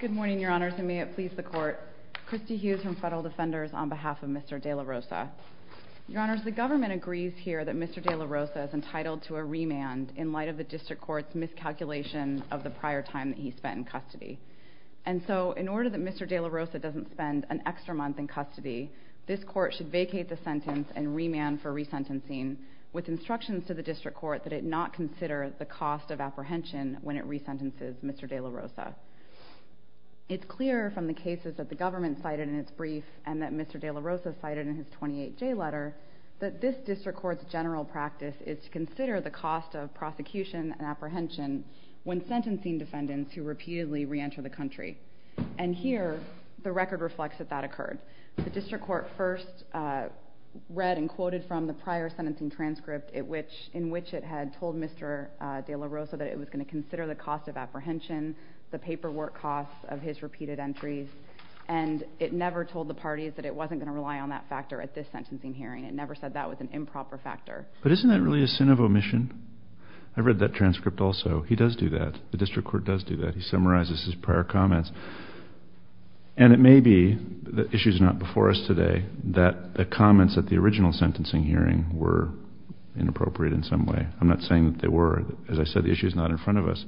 Good morning, Your Honors, and may it please the Court. Christy Hughes from Federal Defenders on behalf of Mr. De La Rosa. Your Honors, the government agrees here that Mr. De La Rosa is entitled to a remand in light of the District Court's miscalculation of the prior time that he spent in custody. And so, in order that Mr. De La Rosa doesn't spend an extra month in custody, this Court should vacate the sentence and remand for resentencing with instructions to the District Court that it not consider the cost of apprehension when it resentences Mr. De La Rosa. It's clear from the cases that the government cited in its brief and that Mr. De La Rosa cited in his 28-J letter that this District Court's general practice is to consider the cost of prosecution and apprehension when sentencing defendants who repeatedly re-enter the country. And here, the record reflects that that occurred. The District Court first read and quoted from the prior sentencing transcript in which it had told Mr. De La Rosa that it was going to consider the cost of apprehension, the paperwork costs of his repeated entries, and it never told the parties that it wasn't going to rely on that factor at this sentencing hearing. It never said that was an improper factor. But isn't that really a sin of omission? I read that transcript also. He does do that. The District Court does do that. He summarizes his prior comments. And it may be that the issue is not before us today that the comments at the original sentencing hearing were inappropriate in some way. I'm not saying that they were. As I said, the issue is not in front of us.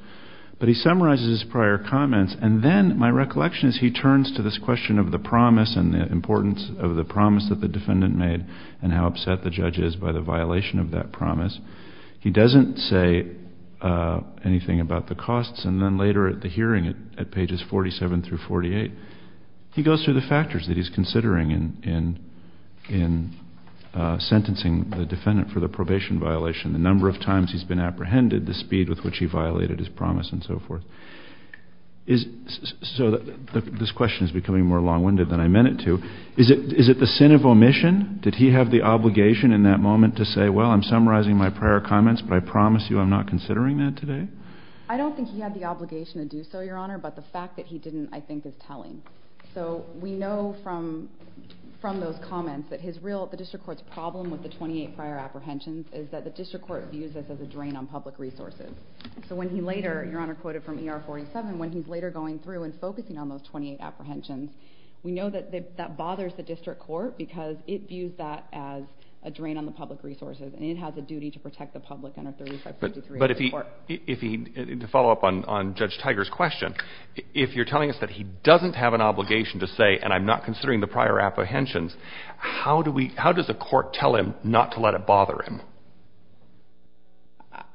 But he summarizes his prior comments, and then my recollection is he turns to this question of the promise and the importance of the promise that the defendant made and how upset the judge is by the violation of that promise. He doesn't say anything about the costs, and then later at the hearing at pages 47 through 48, he goes through the factors that he's considering in sentencing the defendant for the probation violation, the number of times he's been apprehended, the speed with which he violated his promise, and so forth. So this question is becoming more long-winded than I meant it to. Is it the sin of omission? Did he have the obligation in that moment to say, well, I'm summarizing my prior comments, but I promise you I'm not considering that today? I don't think he had the obligation to do so, Your Honor, but the fact that he didn't, I think, is telling. So we know from those comments that the district court's problem with the 28 prior apprehensions is that the district court views this as a drain on public resources. So when he later, Your Honor quoted from ER 47, when he's later going through and focusing on those 28 apprehensions, we know that that bothers the district court because it views that as a drain on the public resources, But if he, to follow up on Judge Tiger's question, if you're telling us that he doesn't have an obligation to say, and I'm not considering the prior apprehensions, how does a court tell him not to let it bother him?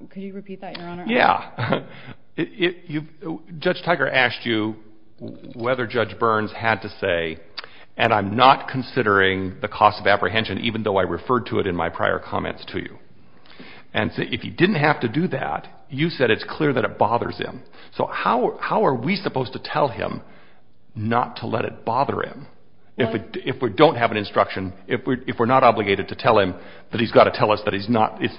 Could you repeat that, Your Honor? Yeah. Judge Tiger asked you whether Judge Burns had to say, and I'm not considering the cost of apprehension, even though I referred to it in my prior comments to you. And if he didn't have to do that, you said it's clear that it bothers him. So how are we supposed to tell him not to let it bother him? If we don't have an instruction, if we're not obligated to tell him that he's got to tell us that it's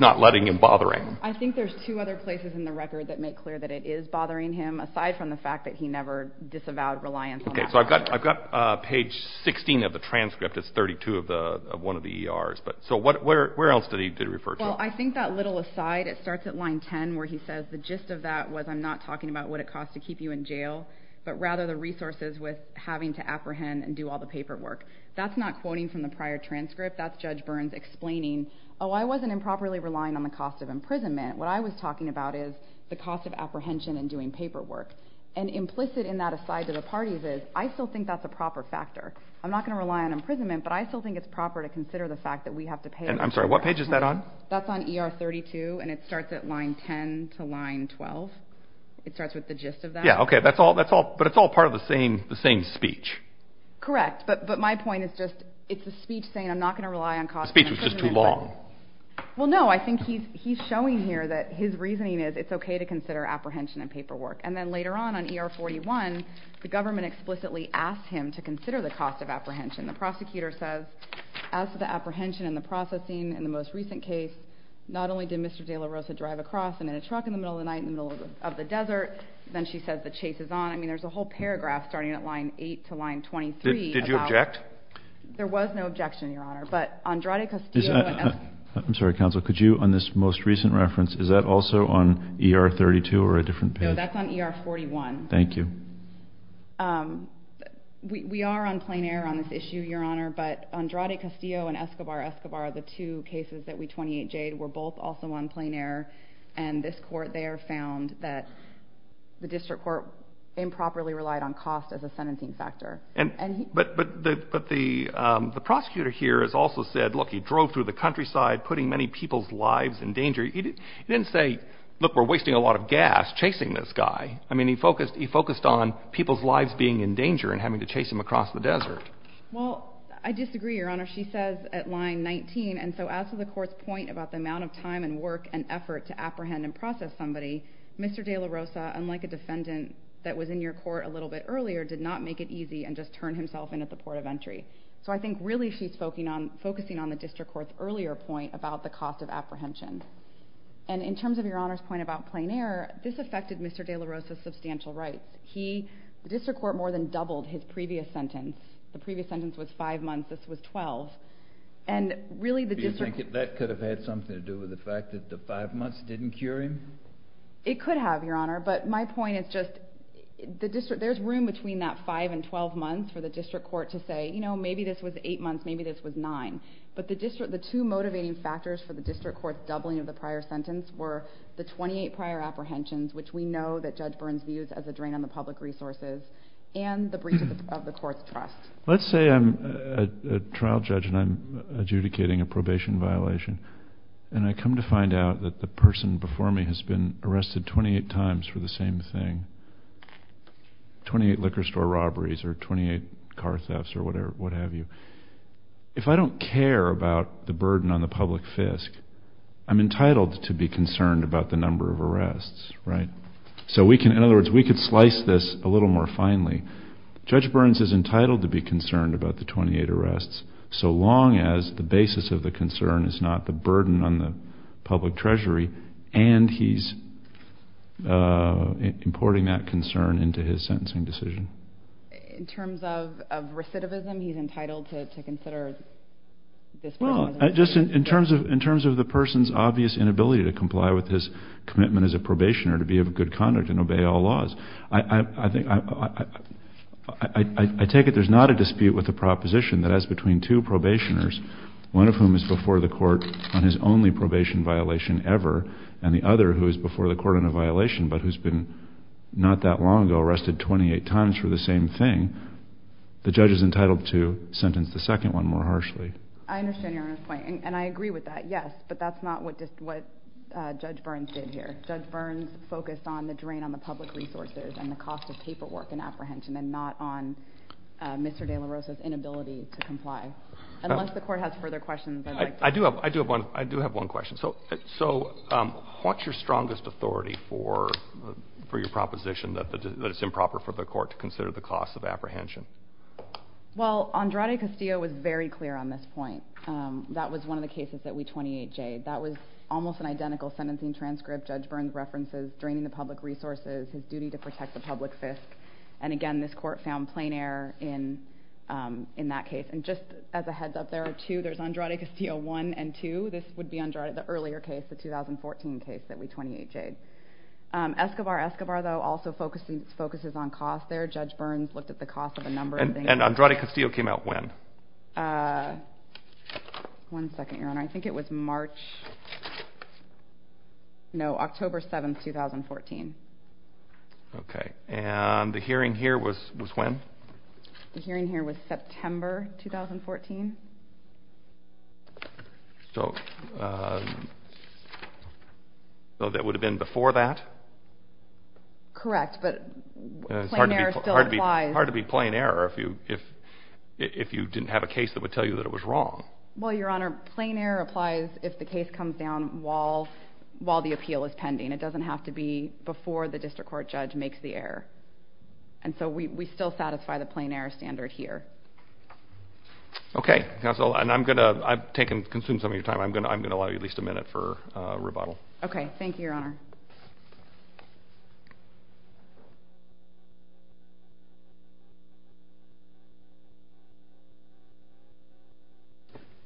not letting him bother him. I think there's two other places in the record that make clear that it is bothering him, aside from the fact that he never disavowed reliance on that. Okay, so I've got page 16 of the transcript. It's 32 of one of the ERs. So where else did he refer to it? Well, I think that little aside, it starts at line 10, where he says the gist of that was, I'm not talking about what it costs to keep you in jail, but rather the resources with having to apprehend and do all the paperwork. That's not quoting from the prior transcript. That's Judge Burns explaining, oh, I wasn't improperly relying on the cost of imprisonment. What I was talking about is the cost of apprehension and doing paperwork. And implicit in that aside to the parties is, I still think that's a proper factor. I'm not going to rely on imprisonment, but I still think it's proper to consider the fact that we have to pay a certain amount. And I'm sorry, what page is that on? That's on ER 32, and it starts at line 10 to line 12. It starts with the gist of that. Yeah, okay, but it's all part of the same speech. Correct, but my point is just, it's the speech saying I'm not going to rely on cost of imprisonment. The speech was just too long. Well, no, I think he's showing here that his reasoning is it's okay to consider apprehension and paperwork. And then later on, on ER 41, the government explicitly asked him to consider the cost of apprehension. And the prosecutor says, as for the apprehension and the processing in the most recent case, not only did Mr. De La Rosa drive across and in a truck in the middle of the night, in the middle of the desert, then she says the chase is on. I mean, there's a whole paragraph starting at line 8 to line 23. Did you object? There was no objection, Your Honor. But Andrade Castillo and— I'm sorry, counsel. Could you, on this most recent reference, is that also on ER 32 or a different page? No, that's on ER 41. Thank you. We are on plain error on this issue, Your Honor. But Andrade Castillo and Escobar Escobar, the two cases that we 28J'd, were both also on plain error. And this court there found that the district court improperly relied on cost as a sentencing factor. But the prosecutor here has also said, look, he drove through the countryside, putting many people's lives in danger. He didn't say, look, we're wasting a lot of gas chasing this guy. I mean, he focused on people's lives being in danger and having to chase him across the desert. Well, I disagree, Your Honor. She says at line 19, and so as to the court's point about the amount of time and work and effort to apprehend and process somebody, Mr. de la Rosa, unlike a defendant that was in your court a little bit earlier, did not make it easy and just turned himself in at the port of entry. So I think really she's focusing on the district court's earlier point about the cost of apprehension. And in terms of Your Honor's point about plain error, this affected Mr. de la Rosa's substantial rights. The district court more than doubled his previous sentence. The previous sentence was 5 months. This was 12. Do you think that could have had something to do with the fact that the 5 months didn't cure him? It could have, Your Honor. But my point is just there's room between that 5 and 12 months for the district court to say, you know, maybe this was 8 months, maybe this was 9. But the two motivating factors for the district court's doubling of the prior sentence were the 28 prior apprehensions, which we know that Judge Burns views as a drain on the public resources, and the breach of the court's trust. Let's say I'm a trial judge and I'm adjudicating a probation violation, and I come to find out that the person before me has been arrested 28 times for the same thing, 28 liquor store robberies or 28 car thefts or what have you. If I don't care about the burden on the public fisc, I'm entitled to be concerned about the number of arrests, right? So we can, in other words, we could slice this a little more finely. Judge Burns is entitled to be concerned about the 28 arrests so long as the basis of the concern is not the burden on the public treasury and he's importing that concern into his sentencing decision. In terms of recidivism, he's entitled to consider this burden? No, just in terms of the person's obvious inability to comply with his commitment as a probationer to be of good conduct and obey all laws. I take it there's not a dispute with the proposition that as between two probationers, one of whom is before the court on his only probation violation ever and the other who is before the court on a violation but who's been not that long ago arrested 28 times for the same thing, the judge is entitled to sentence the second one more harshly. I understand your point and I agree with that, yes, but that's not what Judge Burns did here. Judge Burns focused on the drain on the public resources and the cost of paperwork and apprehension and not on Mr. De La Rosa's inability to comply. Unless the court has further questions, I'd like to... I do have one question. So what's your strongest authority for your proposition that it's improper for the court to consider the cost of apprehension? Well, Andrade Castillo was very clear on this point. That was one of the cases that we 28-Jed. That was almost an identical sentencing transcript. Judge Burns references draining the public resources, his duty to protect the public fisc. And again, this court found plain error in that case. And just as a heads up, there are two. There's Andrade Castillo I and II. This would be the earlier case, the 2014 case that we 28-Jed. Escobar-Escobar, though, also focuses on cost there. Judge Burns looked at the cost of a number of things. And Andrade Castillo came out when? One second, Your Honor. I think it was March. No, October 7, 2014. Okay. And the hearing here was when? The hearing here was September 2014. So that would have been before that? Correct. But plain error still applies. It's hard to be plain error if you didn't have a case that would tell you that it was wrong. Well, Your Honor, plain error applies if the case comes down while the appeal is pending. It doesn't have to be before the district court judge makes the error. And so we still satisfy the plain error standard here. Okay. Counsel, and I'm going to take and consume some of your time. I'm going to allow you at least a minute for rebuttal. Okay. Thank you, Your Honor.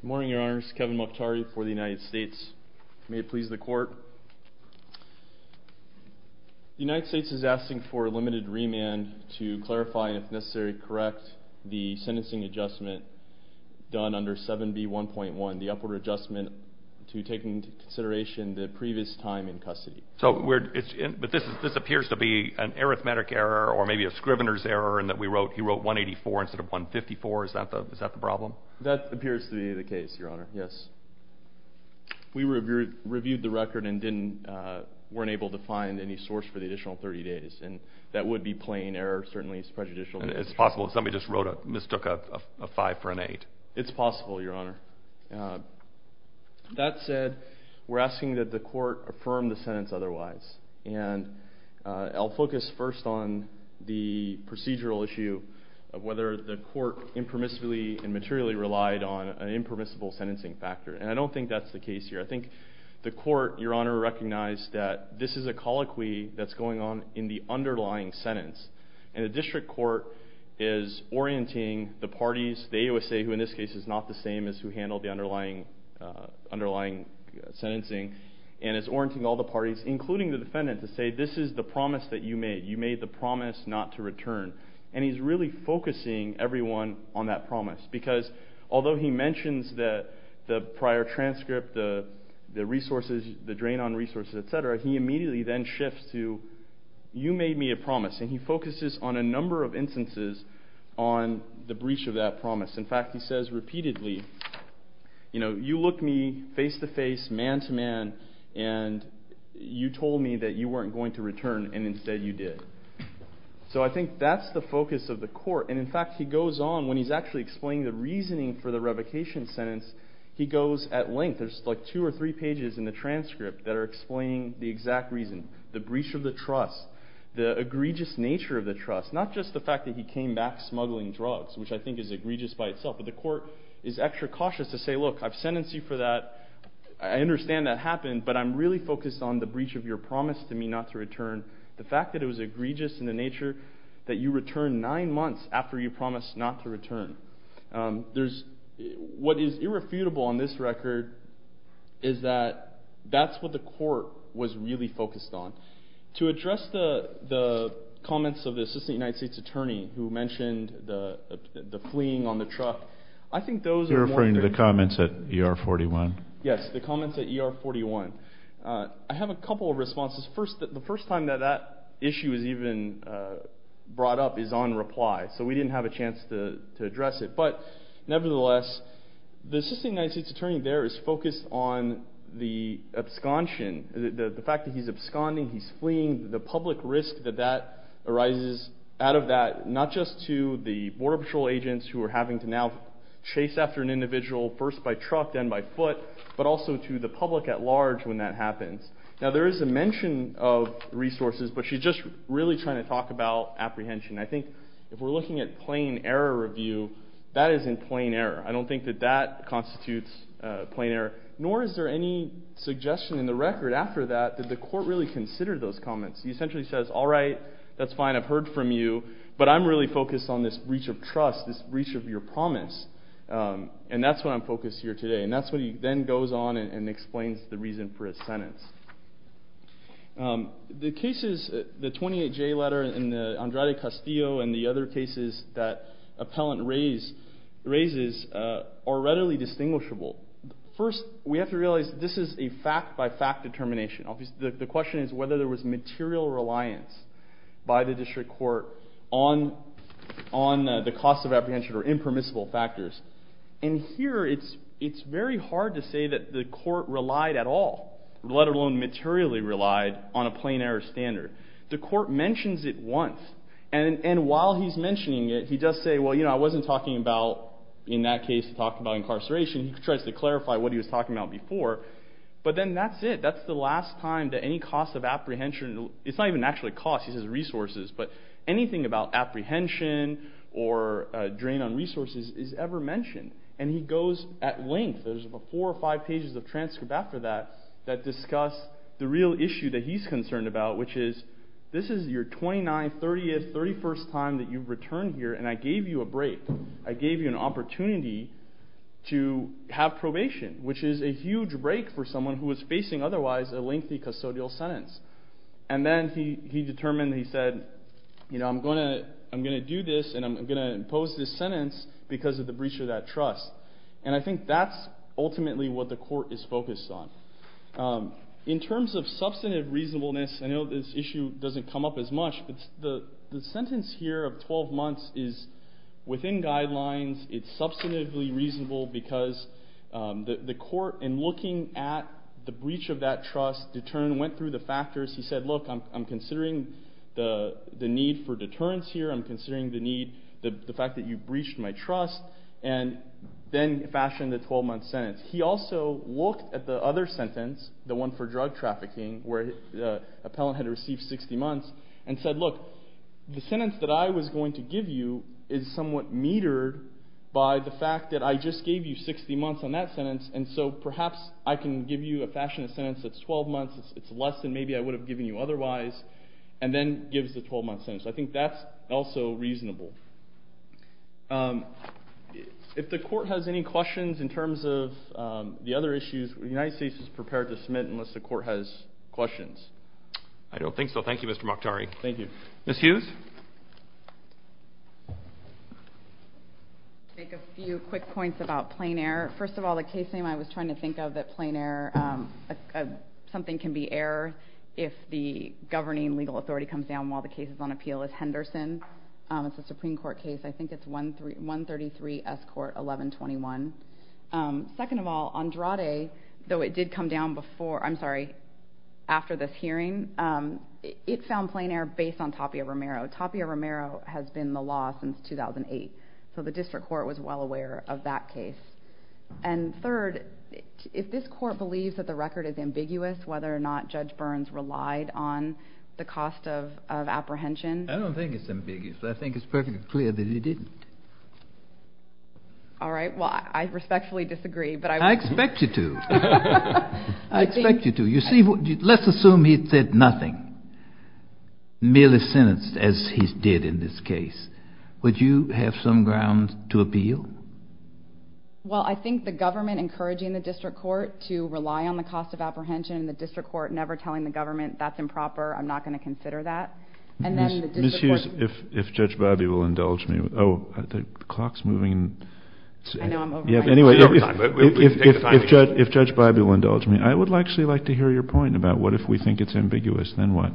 Good morning, Your Honors. Kevin Mottari for the United States. May it please the Court. The United States is asking for a limited remand to clarify, if necessary, correct the sentencing adjustment done under 7B1.1, the upward adjustment to take into consideration the previous time in custody. But this appears to be an arithmetic error or maybe a scrivener's error in that he wrote 184 instead of 154. Is that the problem? That appears to be the case, Your Honor, yes. We reviewed the record and weren't able to find any source for the additional 30 days. And that would be plain error. Certainly it's prejudicial. It's possible somebody just mistook a 5 for an 8. It's possible, Your Honor. That said, we're asking that the Court affirm the sentence otherwise. And I'll focus first on the procedural issue of whether the Court impermissibly and materially relied on an impermissible sentencing factor. And I don't think that's the case here. I think the Court, Your Honor, recognized that this is a colloquy that's going on in the underlying sentence. And the District Court is orienting the parties, the AOSA, who in this case is not the same as who handled the underlying sentencing, and is orienting all the parties, including the defendant, to say this is the promise that you made. You made the promise not to return. And he's really focusing everyone on that promise. Because although he mentions the prior transcript, the resources, the drain on resources, et cetera, he immediately then shifts to you made me a promise. And he focuses on a number of instances on the breach of that promise. In fact, he says repeatedly, you know, you looked me face-to-face, man-to-man, and you told me that you weren't going to return, and instead you did. So I think that's the focus of the Court. And, in fact, he goes on when he's actually explaining the reasoning for the revocation sentence, he goes at length. There's like two or three pages in the transcript that are explaining the exact reason, the breach of the trust, the egregious nature of the trust, not just the fact that he came back smuggling drugs, which I think is egregious by itself, but the Court is extra cautious to say, look, I've sentenced you for that. I understand that happened, but I'm really focused on the breach of your promise to me not to return, the fact that it was egregious in the nature that you returned nine months after you promised not to return. What is irrefutable on this record is that that's what the Court was really focused on. To address the comments of the Assistant United States Attorney who mentioned the fleeing on the truck, I think those are more than... You're referring to the comments at ER-41? Yes, the comments at ER-41. I have a couple of responses. First, the first time that that issue was even brought up is on reply, so we didn't have a chance to address it. But nevertheless, the Assistant United States Attorney there is focused on the abscontion, the fact that he's absconding, he's fleeing, the public risk that that arises out of that, not just to the Border Patrol agents who are having to now chase after an individual, first by truck, then by foot, but also to the public at large when that happens. Now, there is a mention of resources, but she's just really trying to talk about apprehension. I think if we're looking at plain error review, that is in plain error. I don't think that that constitutes plain error, nor is there any suggestion in the record after that that the Court really considered those comments. He essentially says, all right, that's fine, I've heard from you, but I'm really focused on this breach of trust, this breach of your promise, and that's what I'm focused here today. And that's what he then goes on and explains the reason for his sentence. The cases, the 28J letter and the Andrade-Castillo and the other cases that Appellant raises are readily distinguishable. First, we have to realize that this is a fact-by-fact determination. The question is whether there was material reliance by the District Court on the cost of apprehension or impermissible factors. And here it's very hard to say that the Court relied at all, let alone materially relied, on a plain error standard. The Court mentions it once, and while he's mentioning it, he does say, well, you know, I wasn't talking about, in that case, talking about incarceration. He tries to clarify what he was talking about before. But then that's it. That's the last time that any cost of apprehension, it's not even actually cost, he says resources, but anything about apprehension or drain on resources is ever mentioned. And he goes at length. There's four or five pages of transcript after that that discuss the real issue that he's concerned about, which is this is your 29th, 30th, 31st time that you've returned here, and I gave you a break. I gave you an opportunity to have probation, which is a huge break for someone who is facing otherwise a lengthy custodial sentence. And then he determined, he said, you know, I'm going to do this and I'm going to impose this sentence because of the breach of that trust. And I think that's ultimately what the court is focused on. In terms of substantive reasonableness, I know this issue doesn't come up as much, but the sentence here of 12 months is within guidelines. It's substantively reasonable because the court, in looking at the breach of that trust, went through the factors. He said, look, I'm considering the need for deterrence here. I'm considering the need, the fact that you breached my trust. And then fashioned the 12-month sentence. He also looked at the other sentence, the one for drug trafficking, where the appellant had received 60 months, and said, look, the sentence that I was going to give you is somewhat metered by the fact that I just gave you 60 months on that sentence, and so perhaps I can give you a fashionable sentence that's 12 months. It's less than maybe I would have given you otherwise. And then gives the 12-month sentence. I think that's also reasonable. If the court has any questions in terms of the other issues, the United States is prepared to submit unless the court has questions. I don't think so. Thank you, Mr. Moctari. Thank you. Ms. Hughes? I'll make a few quick points about plain error. First of all, the case name I was trying to think of, that plain error, something can be error if the governing legal authority comes down while the case is on appeal, is Henderson. It's a Supreme Court case. I think it's 133 S. Court 1121. Second of all, Andrade, though it did come down before, I'm sorry, after this hearing, it found plain error based on Tapia Romero. Tapia Romero has been in the law since 2008, so the district court was well aware of that case. And third, if this court believes that the record is ambiguous, whether or not Judge Burns relied on the cost of apprehension. I don't think it's ambiguous. I think it's perfectly clear that he didn't. All right. Well, I respectfully disagree. I expect you to. I expect you to. Let's assume he said nothing, merely sentenced as he did in this case. Would you have some ground to appeal? Well, I think the government encouraging the district court to rely on the cost of apprehension and the district court never telling the government that's improper, I'm not going to consider that. And then the district court. Ms. Hughes, if Judge Biby will indulge me. Oh, the clock's moving. I know I'm over time. Anyway, if Judge Biby will indulge me, I would actually like to hear your point about what if we think it's ambiguous, then what?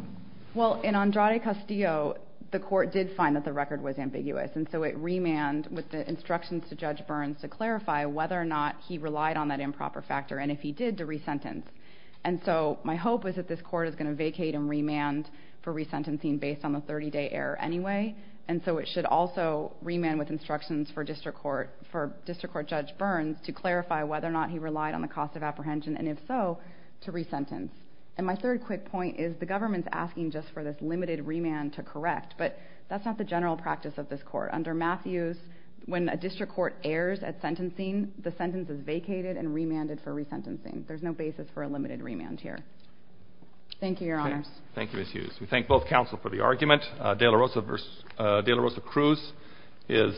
Well, in Andrade Castillo, the court did find that the record was ambiguous, and so it remanned with the instructions to Judge Burns to clarify whether or not he relied on that improper factor. And if he did, to resentence. And so my hope is that this court is going to vacate and remand for resentencing based on the 30-day error anyway. And so it should also remand with instructions for district court Judge Burns to clarify whether or not he relied on the cost of apprehension, and if so, to resentence. And my third quick point is the government's asking just for this limited remand to correct, but that's not the general practice of this court. Under Matthews, when a district court errs at sentencing, the sentence is vacated and remanded for resentencing. There's no basis for a limited remand here. Thank you, Your Honors. Thank you, Ms. Hughes. We thank both counsel for the argument. De La Rosa Cruz is second.